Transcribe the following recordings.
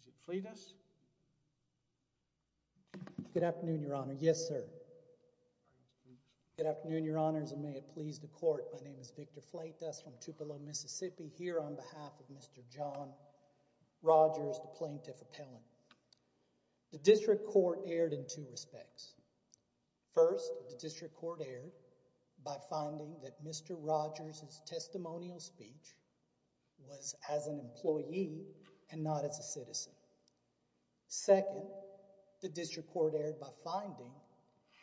Is it fleet us? Good afternoon, Your Honor. Yes, sir. Good afternoon, Your Honors. And may it please the court. My name is Victor flight us from Tupelo, Mississippi, here on behalf of Mr John Rogers, the plaintiff appellant. The district court aired in two respects. First, the district court aired by finding that Mr Rogers is testimonial speech was as an employee and not as a citizen. Second, the district court aired by finding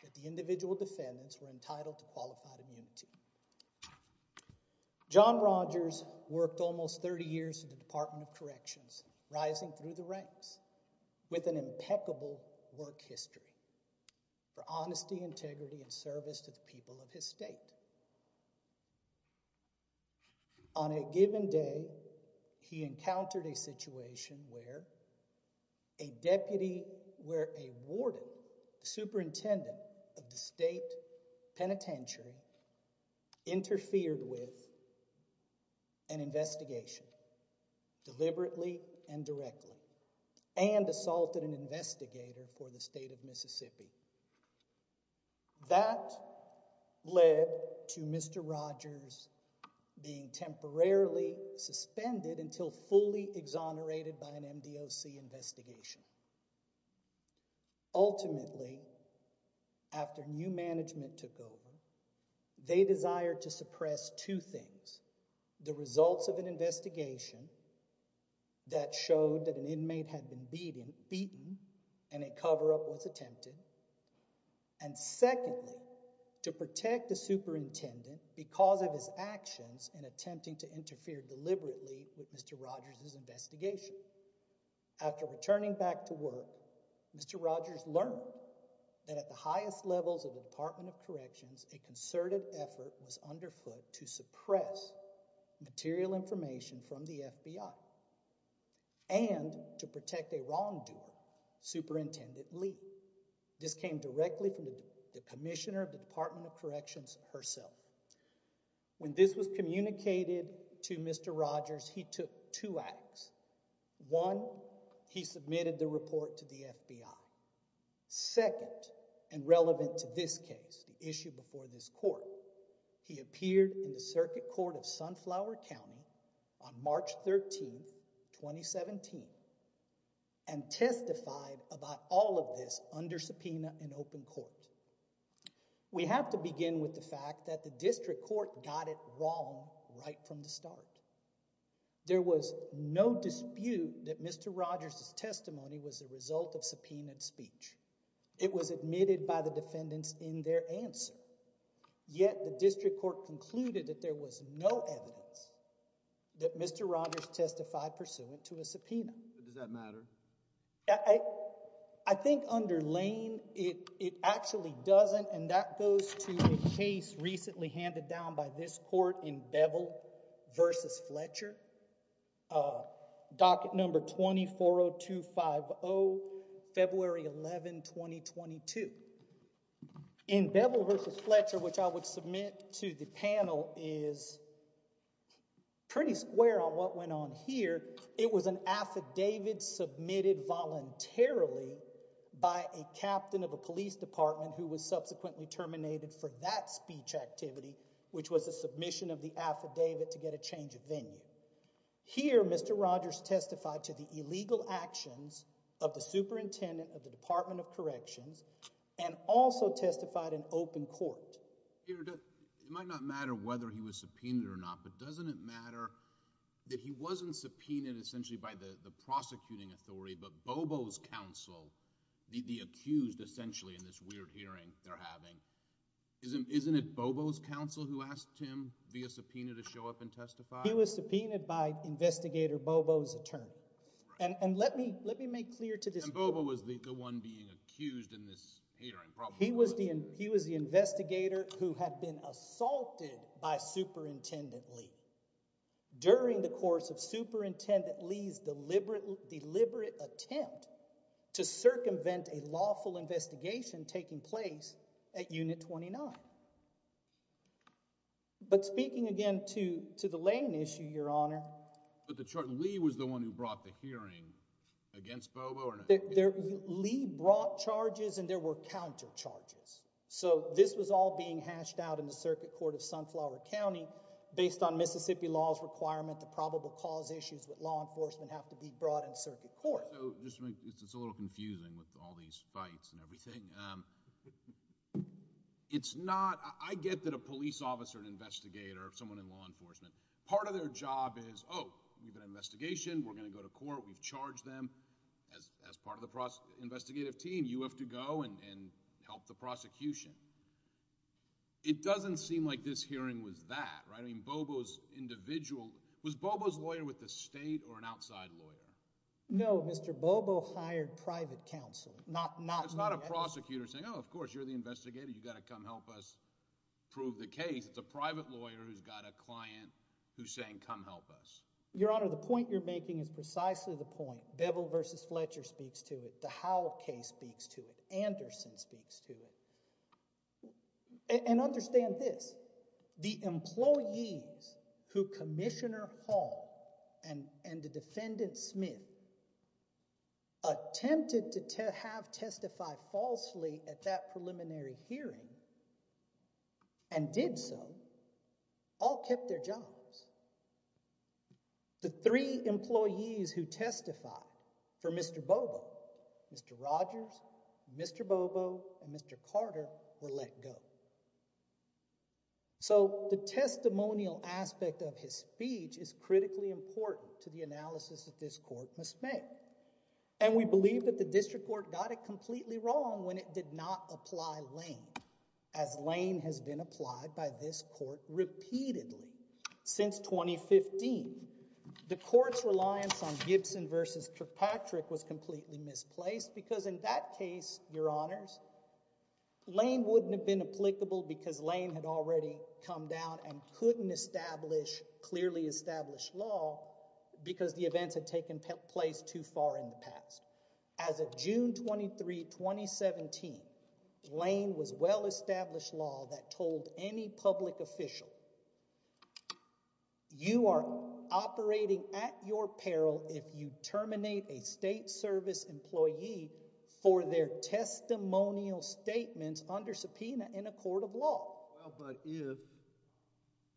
that the individual defendants were entitled to qualified immunity. John Rogers worked almost 30 years in the Department of Corrections, rising through the ranks with an impeccable work history for honesty, integrity and service to the people of his state. On a given day, he encountered a situation where a deputy where a warden superintendent of the state penitentiary interfered with an investigation deliberately and directly and assaulted an investigator for the state of Mississippi. That led to Mr Rogers being temporarily suspended until fully exonerated by an M. D. O. C. Investigation. Ultimately, after new management took over, they desire to suppress two things. The results of an investigation that showed that an inmate had been beating beaten and a cover up was attempted. And secondly, to protect the superintendent because of his actions in attempting to interfere deliberately with Mr Rogers's investigation. After returning back to work, Mr Rogers learned that at the highest levels of the Department of Corrections, a concerted effort was underfoot to suppress material information from the FBI and to protect a wrongdoer, Superintendent Lee. This came directly from the commissioner of the Department of Corrections herself. When this was communicated to Mr Rogers, he took two acts. One, he submitted the report to the FBI. Second and relevant to this case issue before this court, he appeared in the Circuit Court of Sunflower County on March 13, 2017 and testified about all of this under subpoena in open court. We have to begin with the fact that the district court got it wrong right from the start. There was no dispute that Mr Rogers's testimony was the result of subpoenaed speech. It was admitted by the defendants in their answer. Yet the district court concluded that there was no evidence that Mr Rogers testified pursuant to a subpoena. Does that matter? I think under Lane, it actually doesn't. And that goes to a case recently handed down by this court in Beville versus Fletcher. Uh, docket number 24 to 50 February 11, 2022 in Beville versus Fletcher, which I would submit to the panel is pretty square on what went on here. It was an affidavit submitted voluntarily by a captain of a police department who was subsequently terminated for that speech activity, which was the submission of the affidavit to get a change of venue. Here, Mr Rogers testified to the illegal actions of the superintendent of the Department of Corrections and also testified in open court. It might not matter whether he was subpoenaed or not, but doesn't it matter that he wasn't subpoenaed essentially by the prosecuting authority? But Bobo's counsel, the accused essentially in this weird hearing they're having, isn't isn't it Bobo's counsel who asked him via subpoena to show up and testify? He was subpoenaed by investigator Bobo's attorney. And let me let me make clear to this Bobo was the one being accused in this hearing. He was the he was the investigator who had been assaulted by Superintendent Lee during the course of Superintendent Lee's deliberate, deliberate attempt to circumvent a lawful investigation taking place at Unit 29. But speaking again to the Lane issue, Your Honor, but the Lee was the one who brought charges and there were counter charges. So this was all being hashed out in the circuit court of Sunflower County based on Mississippi law's requirement to probable cause issues with law enforcement have to be brought in circuit court. It's a little confusing with all these fights and everything. It's not. I get that a police officer, an investigator, someone in law enforcement, part of their job is, oh, we've an investigation. We're gonna go to court. We've charged them as part of the investigative team. You have to go and help the prosecution. It doesn't seem like this hearing was that right. I mean, Bobo's individual was Bobo's lawyer with the state or an outside lawyer. No, Mr Bobo hired private counsel, not not. It's not a prosecutor saying, Oh, of course, you're the investigator. You gotta come help us prove the case. It's a private lawyer who's got a client who's saying, Come help us, Your Honor. The point you're making is precisely the point. Bevel versus Fletcher speaks to it. The Howell case speaks to it. Anderson speaks to and understand this. The employees who Commissioner Hall and the defendant Smith attempted to have testified falsely at that preliminary hearing and did so all kept their jobs. The three employees who testify for Mr Bobo, Mr Rogers, Mr Bobo and Mr Carter were let go. So the testimonial aspect of his speech is critically important to the analysis that this court must make. And we believe that the district court got it completely wrong when it did not apply Lane as Lane has been applied by this court repeatedly since 2015. The court's reliance on Gibson versus Kirkpatrick was completely misplaced because, in that case, your honors, Lane wouldn't have been applicable because Lane had already come down and couldn't establish clearly established law because the events had taken place too far in the past. As of June 23, 2017, Lane was well established law that told any public official you are operating at your peril if you terminate a state service employee for their testimonial statements under subpoena in a court of law. Well, but if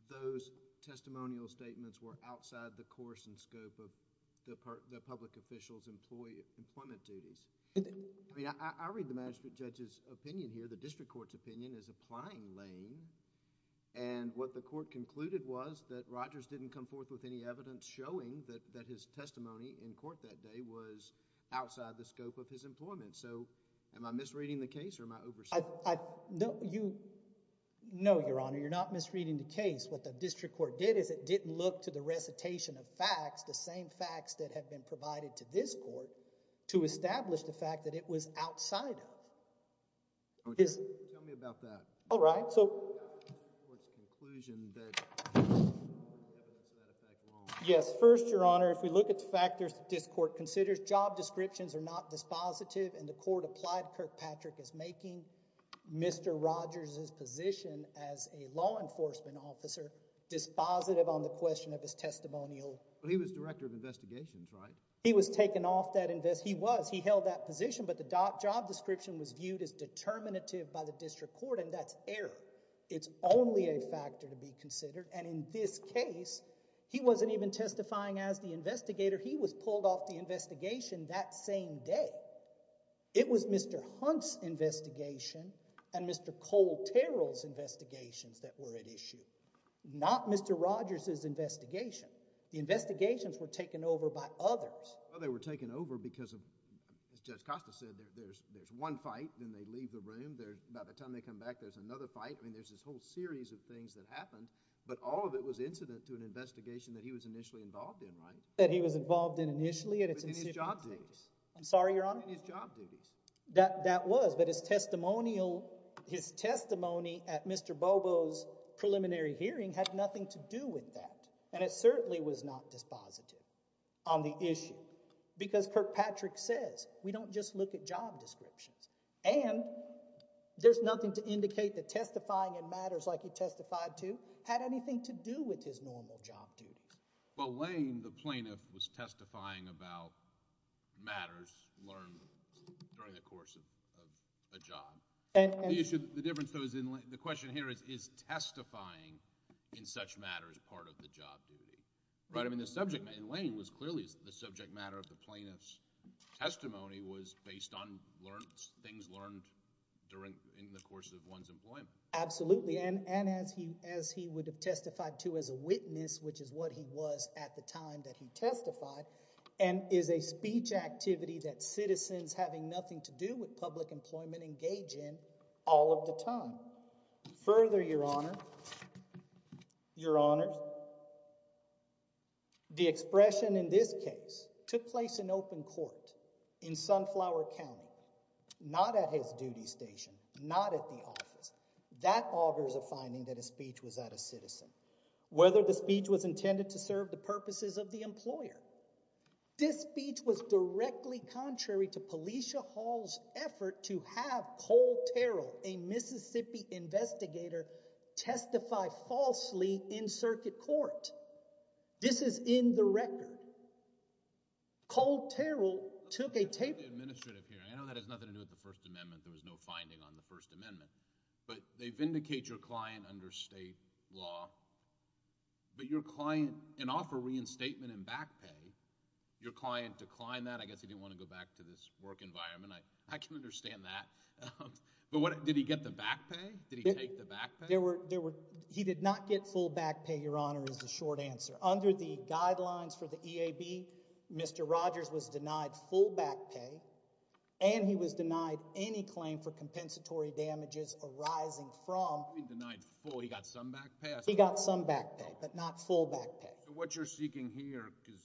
those testimonial statements were outside the course and scope of the public official's employment duties, I read the management judge's opinion here. The district court's opinion is applying Lane. And what the court concluded was that Rogers didn't come forth with any evidence showing that his testimony in court that day was outside the scope of his employment. So am I misreading the case or my oversight? No, your honor, you're not misreading the case. What the district court did is it didn't look to the recitation of facts, the same facts that have been provided to this court to establish the fact that it was outside of tell me about that. All right. So yes. First, your honor, if we look at the factors, this court considers job descriptions are not dispositive and the court applied Kirkpatrick is making Mr Rogers's position as a law enforcement officer dispositive on the question of his testimonial. He was director of investigations, right? He was taken off that invest. He was. He held that position. But the job description was viewed as determinative by the district court, and that's air. It's only a factor to be considered. And in this case, he wasn't even testifying as the investigator. He was pulled off the investigation that same day. It was Mr Hunt's investigation and Mr Cole Terrell's investigations that were at issue, not Mr Rogers's investigation. The investigations were they were taken over because of Judge Costa said there's one fight. Then they leave the room there. By the time they come back, there's another fight. I mean, there's this whole series of things that happened, but all of it was incident to an investigation that he was initially involved in, right? That he was involved in initially at its job. I'm sorry, your honor, that that was but his testimonial. His testimony at Mr Bobo's preliminary hearing had nothing to do with that, and it certainly was not dispositive on the issue, because Kirkpatrick says we don't just look at job descriptions, and there's nothing to indicate that testifying in matters like he testified to had anything to do with his normal job duty. Well, Lane, the plaintiff was testifying about matters learned during the course of a job. And you should the difference those in the question here is is testifying in such matters part of the job duty, right? I mean, the subject in Lane was clearly the subject matter of the plaintiff's testimony was based on learned things learned during in the course of one's employment. Absolutely. And and as he as he would have testified to as a witness, which is what he was at the time that he testified and is a speech activity that citizens having nothing to do with public employment engage in all of the time. Further, your honor, your honor, the expression in this case took place in open court in Sunflower County, not at his duty station, not at the office. That augurs a finding that a speech was that a citizen, whether the speech was intended to serve the purposes of the employer. This speech was directly contrary to Policia Hall's effort to have Cole Terrell, a Mississippi investigator, testify falsely in circuit court. This is in the record. Cole Terrell took a tape administrative here. I know that has nothing to do with the First Amendment. There was no finding on the First Amendment, but they vindicate your client under state law. But your client and offer reinstatement and back pay your client declined that. I guess he didn't want to go back to this work environment. I can understand that. But what did he get the back pay? Did he take the back? There were there were. He did not get full back pay. Your honor is the short answer. Under the guidelines for the E. A. B. Mr Rogers was denied full back pay, and he was denied any claim for compensatory damages arising from denied fully got some back. He got some back, but not full back. What you're seeking here is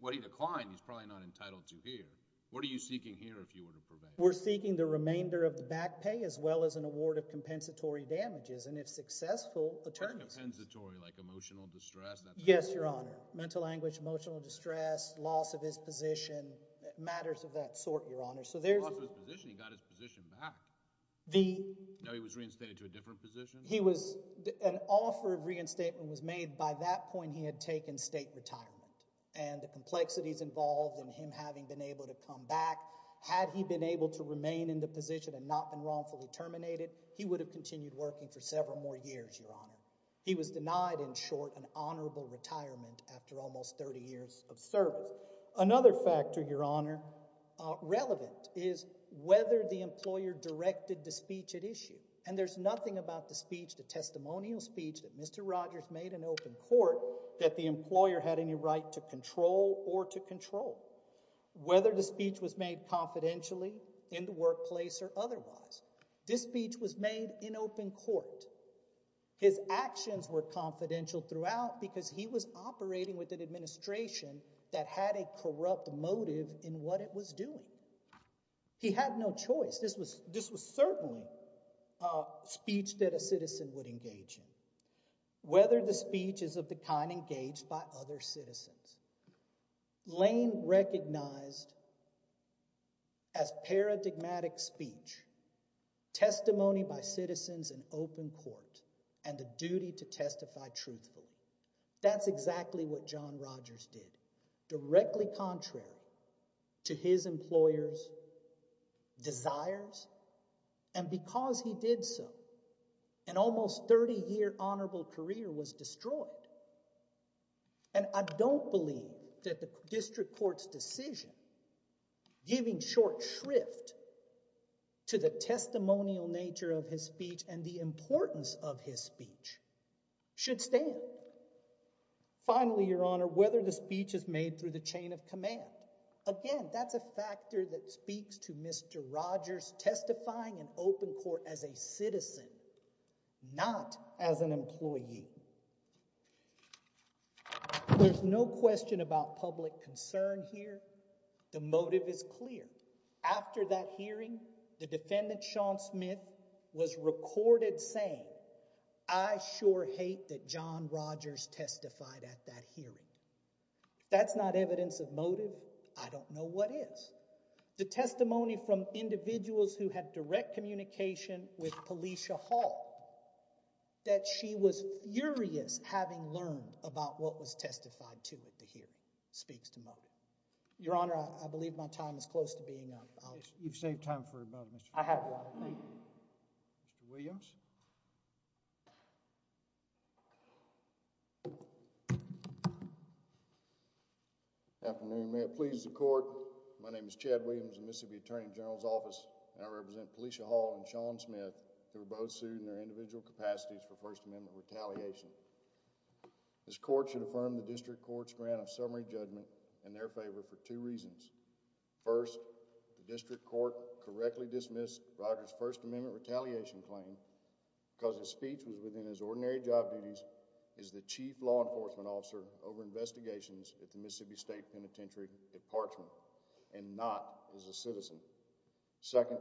what he declined. He's probably not entitled to here. What are you seeking here? If you were to prevent, we're seeking the remainder of the back pay as well as an award of compensatory damages. And if successful attorneys pensatory, like emotional distress? Yes, your honor. Mental anguish, emotional distress, loss of his position matters of that sort, your honor. So there's a position. He got his position back. The he was reinstated to a different position. He was an offer of reinstatement was made. By that point, he had taken state retirement and the complexities involved in him having been able to come back. Had he been able to remain in the position and not been wrongfully terminated, he would have continued working for several more years. Your honor. He was denied in short, an honorable retirement after almost 30 years of service. Another factor, your honor relevant is whether the employer directed the speech at issue. And there's nothing about the speech, the testimonial speech that Mr Rogers made an open court that the whether the speech was made confidentially in the workplace or otherwise, this speech was made in open court. His actions were confidential throughout because he was operating with an administration that had a corrupt motive in what it was doing. He had no choice. This was this was certainly a speech that a citizen would engage in whether the speech is of the kind engaged by other citizens. Lane recognized as paradigmatic speech, testimony by citizens in open court and the duty to testify truthful. That's exactly what John Rogers did directly contrary to his employers desires. And because he did so, an almost 30 year honorable career was destroyed and I don't believe that the district court's decision giving short shrift to the testimonial nature of his speech and the importance of his speech should stand. Finally, your honor, whether the speech is made through the chain of command again, that's a factor that speaks to you. There's no question about public concern here. The motive is clear. After that hearing, the defendant Sean Smith was recorded saying, I sure hate that John Rogers testified at that hearing. That's not evidence of motive. I don't know what is the testimony from individuals who had direct communication with Felicia Hall that she was furious having learned about what was testified to at the hearing speaks to your honor. I believe my time is close to being out. You've saved time for about I have Williams. Afternoon. May it please the court. My name is Chad Williams, Mississippi Attorney General's Office, and I represent Felicia Hall and Sean Smith who were both sued in their individual capacities for First Amendment retaliation. This court should affirm the district court's grant of summary judgment in their favor for two reasons. First, the district court correctly dismissed Rogers' First Amendment retaliation claim because his speech was within his ordinary job duties as the chief law enforcement officer over investigations at the Mississippi State Penitentiary at Parchment and not as a citizen. Second,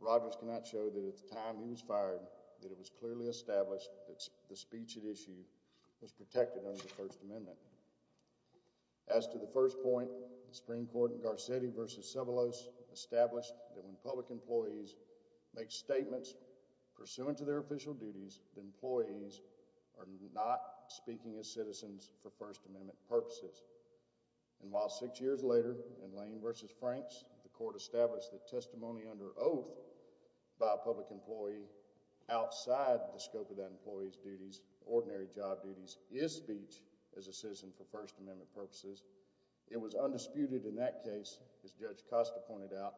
Rogers cannot show that at the time he was fired that it was clearly established that the speech at issue was protected under the First Amendment. As to the first point, the Supreme Court in Garcetti v. Sybilos established that when public employees make statements pursuant to their official duties, the employees are not speaking as citizens for First Amendment purposes. And while six years later in Lane v. Franks, the court established that testimony under oath by a public employee outside the scope of that employee's duties, ordinary job duties, is speech as a citizen for First Amendment purposes. It was undisputed in that case, as Judge Costa pointed out,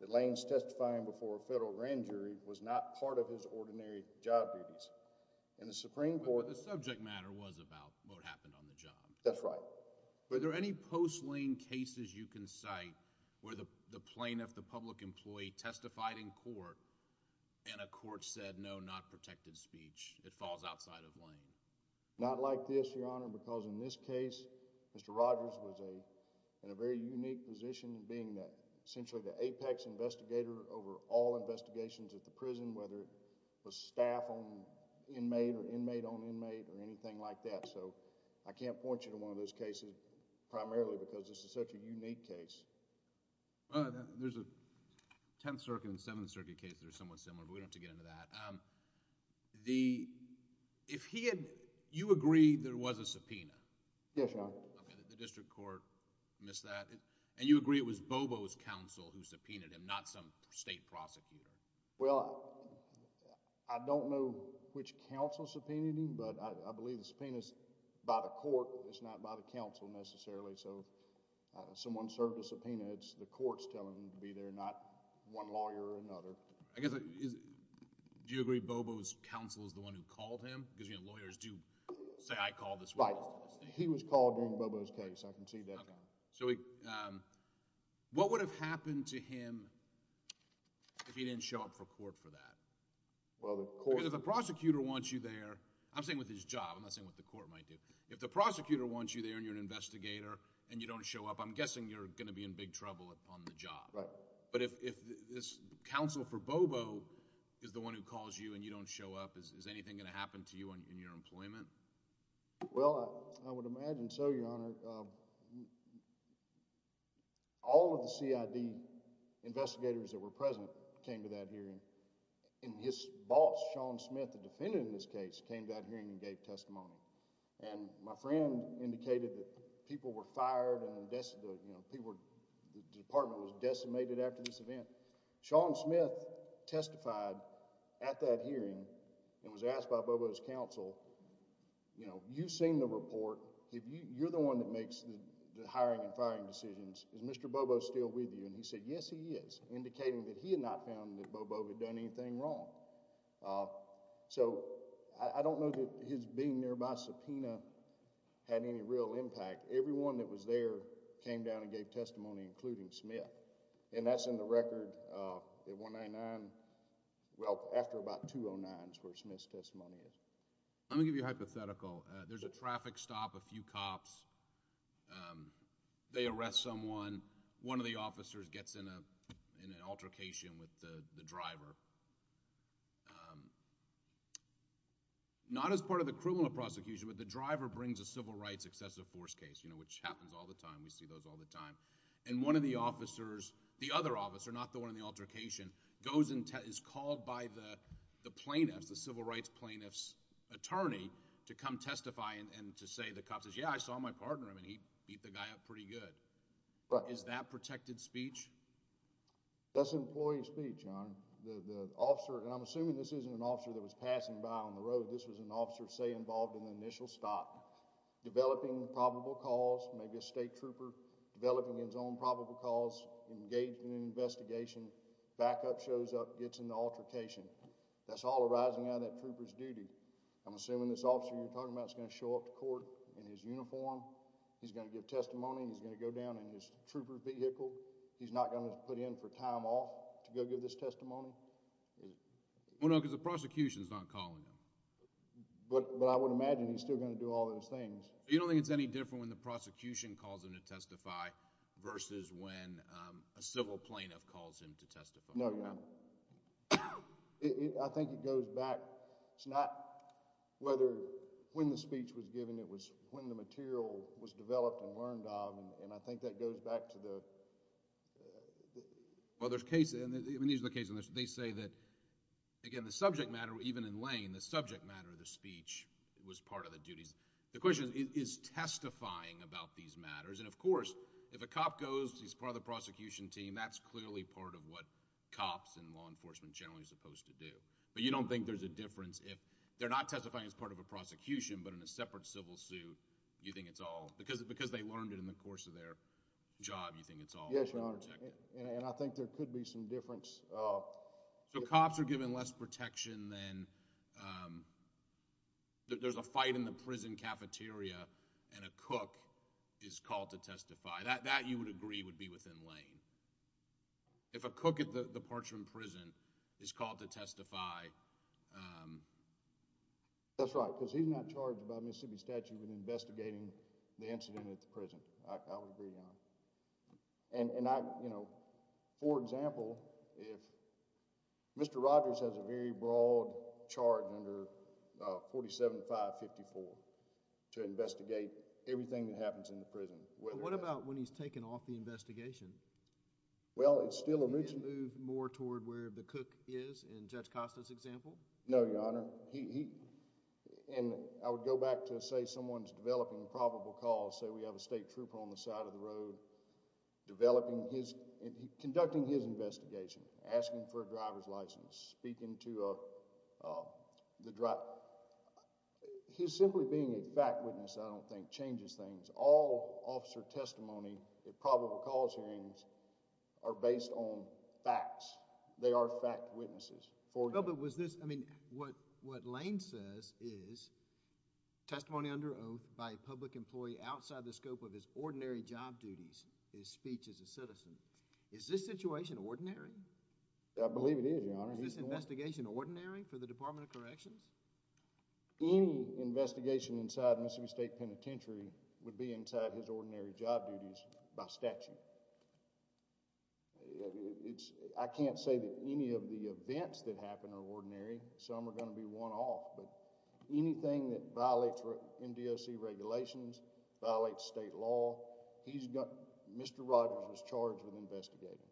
that Lane's testifying before a federal grand jury was not part of his ordinary job duties. And the Supreme Court... That's right. Were there any post-Lane cases you can cite where the plaintiff, the public employee, testified in court and a court said, no, not protected speech, it falls outside of Lane? Not like this, Your Honor, because in this case, Mr. Rogers was in a very unique position being essentially the apex investigator over all investigations at the prison, whether it was staff on inmate or inmate on one of those cases, primarily because this is such a unique case. There's a Tenth Circuit and Seventh Circuit case that are somewhat similar, but we don't have to get into that. If he had... you agree there was a subpoena? Yes, Your Honor. Okay, the district court missed that. And you agree it was Bobo's counsel who subpoenaed him, not some state prosecutor? Well, I don't know which counsel subpoenaed him, but I believe the court's telling him to be there, not one lawyer or another. I guess, do you agree Bobo's counsel is the one who called him? Because lawyers do say, I called this witness. Right. He was called during Bobo's case. I can see that. What would have happened to him if he didn't show up for court for that? Well, the court... Because if the prosecutor wants you there, I'm saying with his job, I'm saying if the prosecutor wants you there and you're an investigator and you don't show up, I'm guessing you're going to be in big trouble on the job. Right. But if this counsel for Bobo is the one who calls you and you don't show up, is anything going to happen to you in your employment? Well, I would imagine so, Your Honor. All of the CID investigators that were present came to that hearing, and his boss, Sean Smith, the defendant in this case, came to that hearing and gave testimony. And my friend indicated that people were fired and the department was decimated after this event. Sean Smith testified at that hearing and was asked by Bobo's counsel, you know, you've seen the report. You're the one that makes the hiring and firing decisions. Is Mr. Bobo still with you? And he said, yes, he is, indicating that he had not found that Bobo had done anything wrong. So, I don't know that his being nearby subpoena had any real impact. Everyone that was there came down and gave testimony, including Smith. And that's in the record at 199, well, after about 209 is where Smith's testimony is. Let me give you a hypothetical. There's a traffic stop, a few cops, they arrest someone, one of the officers gets in an altercation with the driver, not as part of the criminal prosecution, but the driver brings a civil rights excessive force case, you know, which happens all the time. We see those all the time. And one of the officers, the other officer, not the one in the altercation, goes and is called by the plaintiffs, the civil rights plaintiffs' attorney to come testify and to say the cop says, yeah, I saw my partner, I mean, he beat the guy up pretty good. Is that protected speech? That's employee speech, Your Honor. The officer, and I'm assuming this isn't an officer that was passing by on the road, this was an officer, say, involved in the initial stop, developing probable cause, maybe a state trooper, developing his own probable cause, engaged in an investigation, backup shows up, gets in the altercation. That's all arising out of that trooper's duty. I'm assuming this officer you're talking about is going to show up to court in his uniform, he's going to give testimony, he's going to go down in his uniform, he's not going to put in for time off to go give this testimony? No, because the prosecution is not calling him. But I would imagine he's still going to do all those things. You don't think it's any different when the prosecution calls him to testify versus when a civil plaintiff calls him to testify? No, Your Honor. I think it goes back. It's not whether when the speech was given, it was when the material was Well, there's cases, and these are the cases, and they say that, again, the subject matter, even in Lane, the subject matter of the speech was part of the duties. The question is, is testifying about these matters, and of course, if a cop goes, he's part of the prosecution team, that's clearly part of what cops and law enforcement generally are supposed to do. But you don't think there's a difference if they're not testifying as part of a prosecution but in a separate civil suit, you think it's all, because they learned it in the course of their job, you think it's all Yes, Your Honor, and I think there could be some difference. So cops are given less protection than, there's a fight in the prison cafeteria and a cook is called to testify. That, you would agree, would be within Lane. If a cook at the Parchman Prison is called to testify. That's right, because he's not charged by Mississippi statute with investigating the incident at the prison. I would agree, Your Honor. And I, you know, for example, if Mr. Rogers has a very broad charge under 47-554 to investigate everything that happens in the prison. What about when he's taken off the investigation? Well, it's still a routine. Can you move more toward where the cook is in Judge Costa's example? No, Your Honor. And I would go back to say someone's developing probable cause, say we have a state trooper on the side of the road developing his, conducting his investigation, asking for a driver's license, speaking to the driver. His simply being a fact witness, I don't think, changes things. All officer testimony at probable cause hearings are based on facts. They are fact witnesses. Well, but was this, I mean, what Lane says is, testimony under oath by a public employee outside the scope of his ordinary job duties, his speech as a citizen. Is this situation ordinary? I believe it is, Your Honor. Is this investigation ordinary for the Department of Corrections? Any investigation inside Mississippi State Penitentiary would be inside his ordinary job duties by statute. I can't say that any of the events that happen are ordinary. Some are going to be one-off. But anything that violates MDOC regulations, violates state law, he's got, Mr. Rogers was charged with investigating.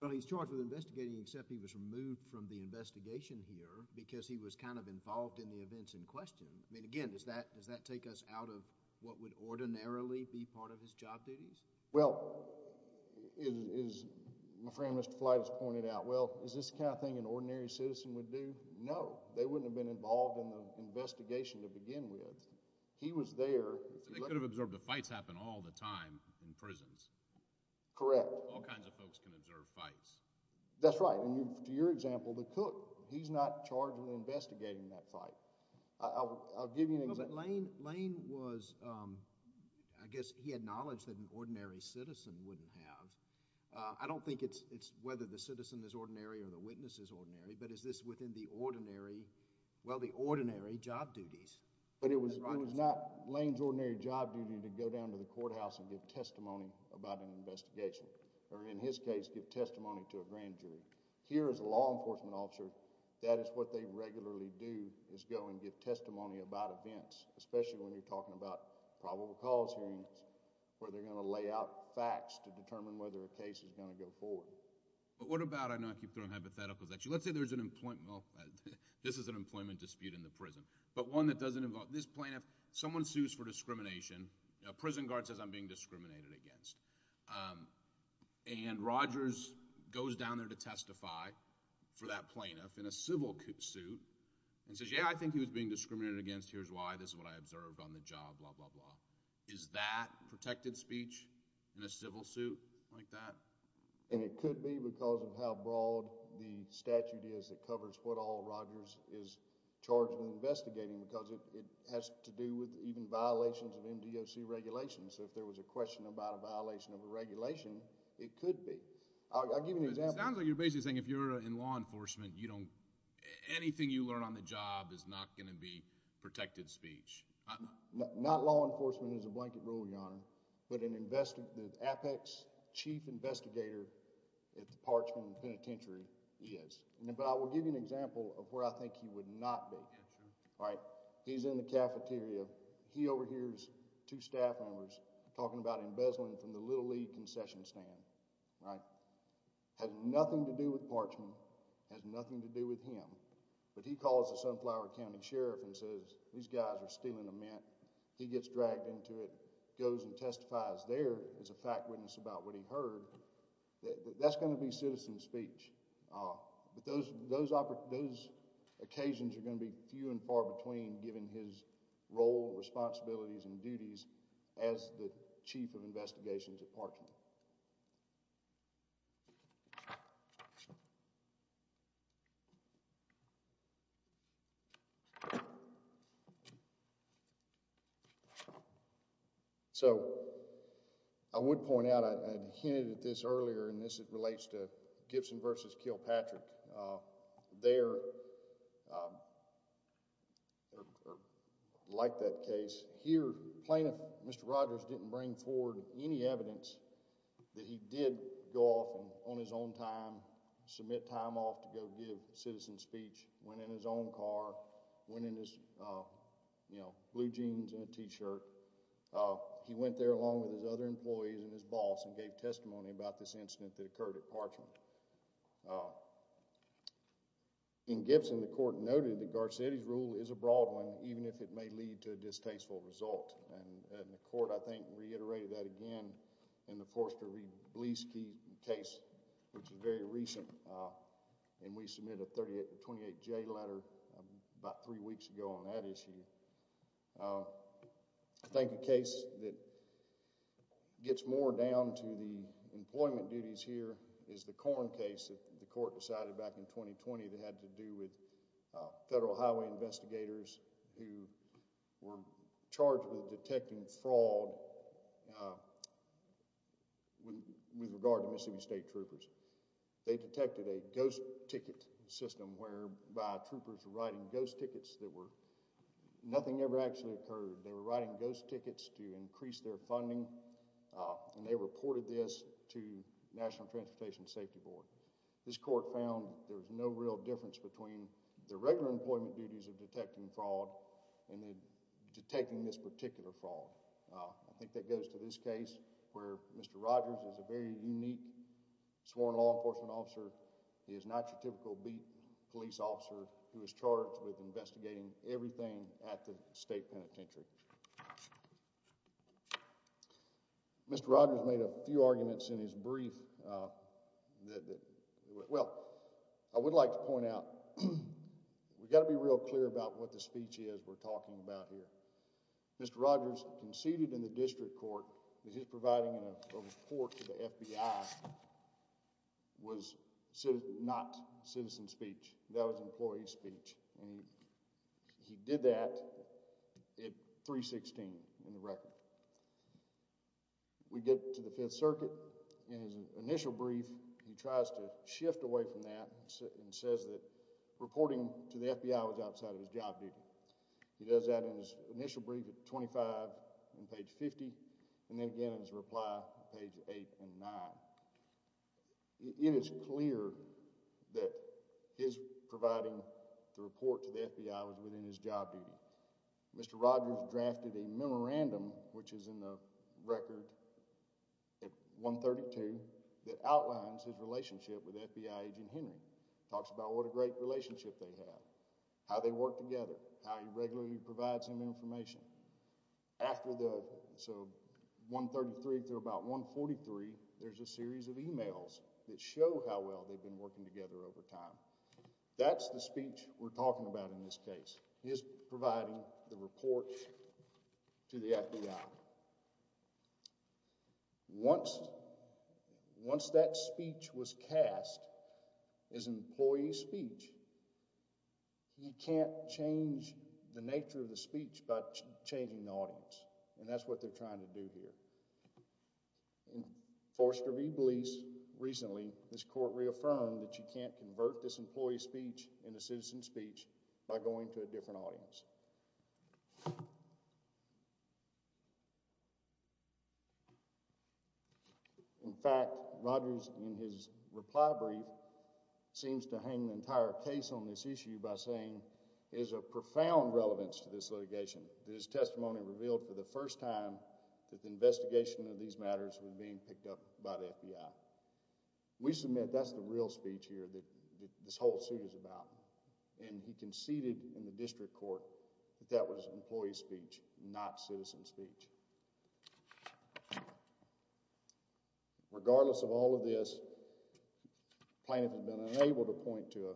Well, he's charged with investigating except he was removed from the investigation here because he was kind of involved in the events in question. I mean, again, does that take us out of what would ordinarily be part of his job duties? Well, as my friend Mr. Flight has pointed out, well, is this the kind of thing an ordinary citizen would do? No. They wouldn't have been involved in the investigation to begin with. He was there. They could have observed the fights happen all the time in prisons. Correct. All kinds of folks can observe fights. That's right. To your example, the cook, he's not charged with investigating that fight. I'll give you an example. Lane was, I guess he had knowledge that an ordinary citizen wouldn't have. I don't think it's whether the citizen is ordinary or the witness is ordinary, but is this within the ordinary, well, the ordinary job duties? But it was not Lane's ordinary job duty to go down to the courthouse and give testimony about an investigation, or in his case, give testimony to a grand jury. Here as a law enforcement officer, that is what they regularly do is go and give testimony about events, especially when you're talking about probable cause hearings where they're going to lay out facts to determine whether a case is going to go forward. But what about, I know I keep throwing hypotheticals at you, let's say there's an employment, well, this is an employment dispute in the prison, but one that doesn't involve this plaintiff. Someone sues for discrimination. A prison guard says, I'm being discriminated against. And Rogers goes down there to testify for that plaintiff in a civil suit and says, yeah, I think he was being discriminated against. Here's why. This is what I observed on the job, blah, blah, blah. Is that protected speech in a civil suit like that? And it could be because of how broad the statute is that covers what all Rogers is charged with investigating because it has to do with even violations of MDOC regulations. So if there was a question about a violation of a regulation, it could be. I'll give you an example. It sounds like you're basically saying if you're in law enforcement, anything you learn on the job is not going to be protected speech. Not law enforcement is a blanket rule, Your Honor, but the apex chief investigator at the Parchman Penitentiary is. But I will give you an example of where I think he would not be. He's in the cafeteria. He overhears two staff members talking about embezzling from the Little League concession stand. Has nothing to do with Parchman. Has nothing to do with him. But he calls the Sunflower County Sheriff and says, these guys are stealing a mint. He gets dragged into it, goes and testifies there as a fact witness about what he heard. That's going to be citizen speech. But those occasions are going to be few and far between given his role, responsibilities, and duties as the chief of investigations at Parchman. So I would point out, I hinted at this earlier, and this relates to Gibson v. Kilpatrick. They are like that case. Here, plaintiff, Mr. Rogers, didn't bring forward any evidence that he did go off on his own time, submit time off to go give citizen speech, went in his own car, went in his, you know, blue jeans and a t-shirt. He went there along with his other employees and his boss and gave testimony about this incident that occurred at Parchman. In Gibson, the court noted that Garcetti's rule is a broad one, even if it may lead to a distasteful result. And the court, I think, reiterated that again in the Forster v. Blesky case, which is very recent, and we submitted a 28-J letter about three weeks ago on that issue. I think the case that gets more down to the employment duties here is the Corn case that the court decided back in 2020 that had to do with federal highway investigators who were charged with detecting fraud with regard to Mississippi State troopers. They detected a ghost ticket system whereby troopers were writing ghost tickets that were nothing ever actually occurred. They were writing ghost tickets to increase their funding, and they reported this to the National Transportation Safety Board. This court found there was no real difference between the regular employment duties of detecting fraud and detecting this particular fraud. I think that goes to this case where Mr. Rogers is a very unique sworn law enforcement officer. He is not your typical beat police officer who is charged with investigating everything at the state penitentiary. Mr. Rogers made a few arguments in his brief. Well, I would like to point out we've got to be real clear about what the speech is we're talking about here. Mr. Rogers conceded in the district court that his providing a report to the FBI was not citizen speech. That was employee speech, and he did that at 316 in the record. We get to the Fifth Circuit. In his initial brief, he tries to shift away from that and says that reporting to the FBI was outside of his job duty. He does that in his initial brief at 25 on page 50 and then again in his reply on page 8 and 9. It is clear that his providing the report to the FBI was within his job duty. Mr. Rogers drafted a memorandum, which is in the record at 132, that outlines his relationship with FBI agent Henry. It talks about what a great relationship they have, how they work together, how he regularly provides him information. After the, so 133 through about 143, there's a series of emails that show how well they've been working together over time. That's the speech we're talking about in this case, his providing the report to the FBI. Once that speech was cast as employee speech, he can't change the nature of the speech by changing the audience, and that's what they're trying to do here. Forced to re-release recently, this court reaffirmed that you can't convert this employee speech into citizen speech by going to a different audience. In fact, Rogers, in his reply brief, seems to hang the entire case on this issue by saying there's a profound relevance to this litigation. His testimony revealed for the first time that the investigation of these matters was being picked up by the FBI. We submit that's the real speech here that this whole suit is about, and he conceded in the district court that that was employee speech, not citizen speech. Regardless of all of this, Planoff has been unable to point to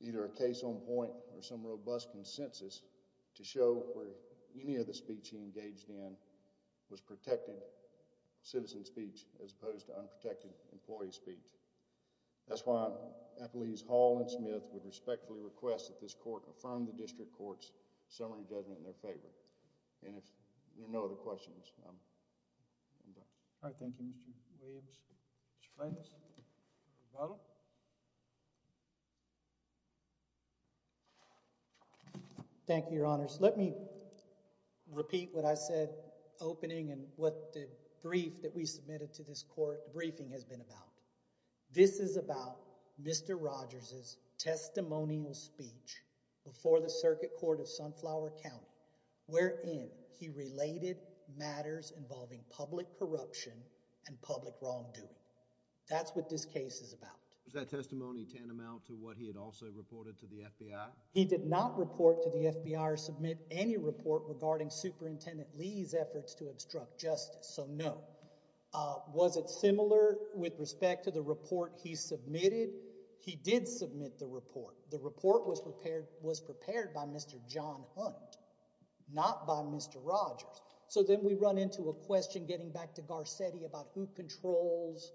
either a case on point or some robust consensus to show where any of the speech he engaged in was protected citizen speech as opposed to unprotected employee speech. That's why I believe Hall and Smith would respectfully request that this court affirm the district court's summary judgment in their favor. And if there are no other questions, I'm done. All right, thank you, Mr. Williams. Mr. Planoff? Thank you, Your Honors. Let me repeat what I said opening and what the brief that we submitted to this court briefing has been about. This is about Mr. Rogers' testimonial speech before the Circuit Court of Sunflower County wherein he related matters involving public corruption and public wrongdoing. That's what this case is about. Was that testimony tantamount to what he had also reported to the FBI? He did not report to the FBI or submit any report regarding Superintendent Lee's efforts to obstruct justice, so no. Was it similar with respect to the report he submitted? He did submit the report. The report was prepared by Mr. John Hunt, not by Mr. Rogers. So then we run into a question getting back to Garcetti about who controls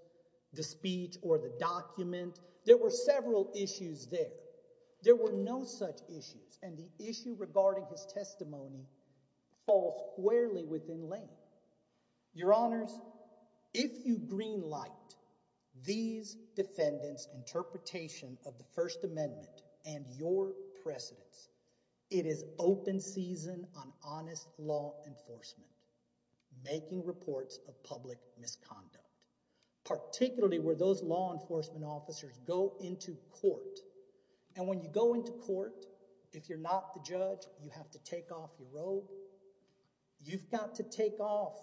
the speech or the document. There were several issues there. There were no such issues, and the issue regarding his testimony falls squarely within length. of the First Amendment and your precedence. It is open season on honest law enforcement making reports of public misconduct, particularly where those law enforcement officers go into court. And when you go into court, if you're not the judge, you have to take off your robe. You've got to take off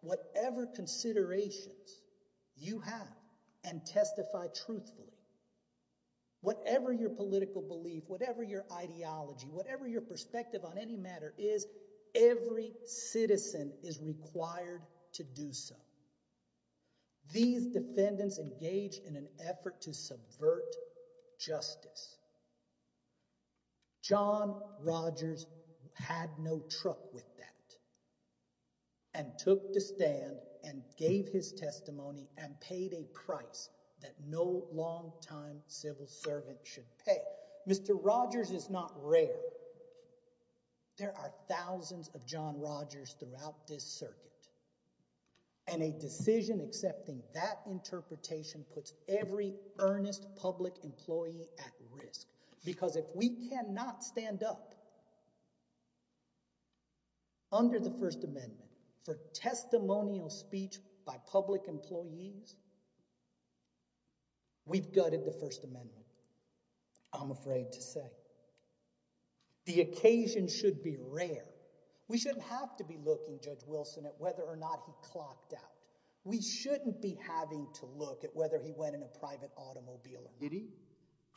whatever considerations you have and testify truthfully. Whatever your political belief, whatever your ideology, whatever your perspective on any matter is, every citizen is required to do so. These defendants engaged in an effort to subvert justice. John Rogers had no truck with that and took to stand and gave his testimony and paid a price that no long-time civil servant should pay. Mr. Rogers is not rare. There are thousands of John Rogers throughout this circuit, and a decision accepting that interpretation puts every earnest public employee at risk. Because if we cannot stand up under the First Amendment for testimonial speech by public employees, we've gutted the First Amendment, I'm afraid to say. The occasion should be rare. We shouldn't have to be looking, Judge Wilson, at whether or not he clocked out. We shouldn't be having to look at whether he went in a private automobile or not. Did he?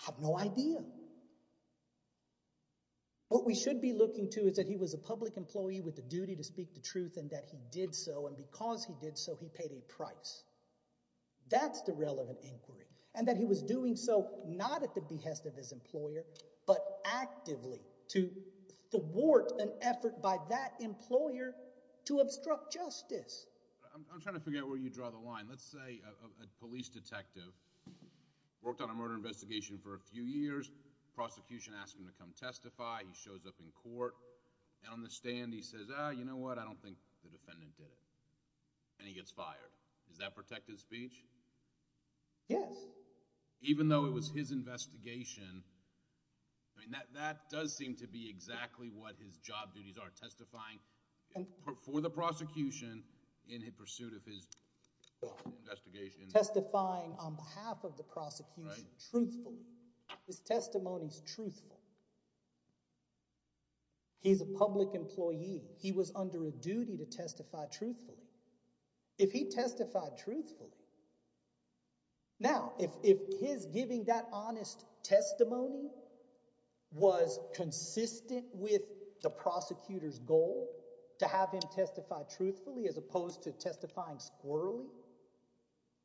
I have no idea. What we should be looking to is that he was a public employee with the duty to speak the truth and that he did so, and because he did so, he paid a price. That's the relevant inquiry, and that he was doing so not at the behest of his employer, but actively to thwart an effort by that employer to obstruct justice. I'm trying to figure out where you draw the line. Let's say a police detective worked on a murder investigation for a few years. Prosecution asked him to come testify. He shows up in court. On the stand, he says, you know what, I don't think the defendant did it, and he gets fired. Does that protect his speech? Yes. Even though it was his investigation, that does seem to be exactly what his job duties are, testifying for the prosecution in pursuit of his investigation. Testifying on behalf of the prosecution, truthfully. His testimony is truthful. He's a public employee. He was under a duty to testify truthfully. If he testified truthfully, now, if his giving that honest testimony was consistent with the prosecutor's goal to have him testify truthfully as opposed to testifying squirrelly,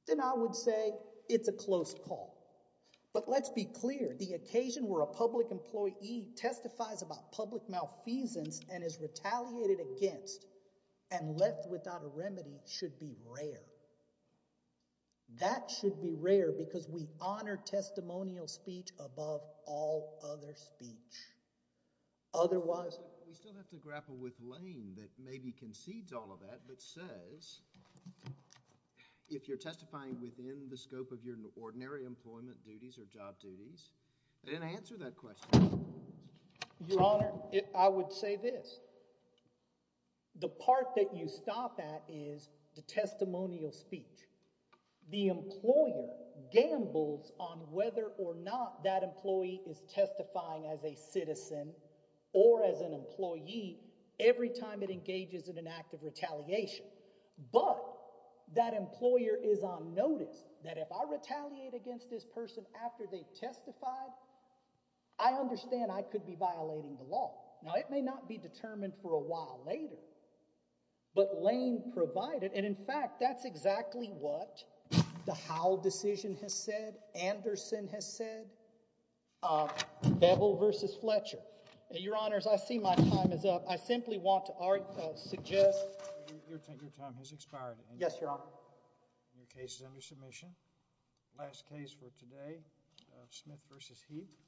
then I would say it's a close call. But let's be clear. The occasion where a public employee testifies about public malfeasance and is retaliated against and left without a remedy should be rare. That should be rare because we honor testimonial speech above all other speech. Otherwise... We still have to grapple with Lane that maybe concedes all of that, but says, if you're testifying within the scope of your ordinary employment duties or job duties, then answer that question. Your Honor, I would say this. The part that you stop at is the testimonial speech. The employer gambles on whether or not that employee is testifying as a citizen or as an employee every time it engages in an act of retaliation. But that employer is on notice that if I retaliate against this person after they've testified, I understand I could be violating the law. Now, it may not be determined for a while later, but Lane provided. And, in fact, that's exactly what the Howell decision has said, Anderson has said, Beville versus Fletcher. Your Honors, I see my time is up. I simply want to suggest... Your time has expired. Yes, Your Honor. Your case is under submission. Last case for today, Smith versus Heath.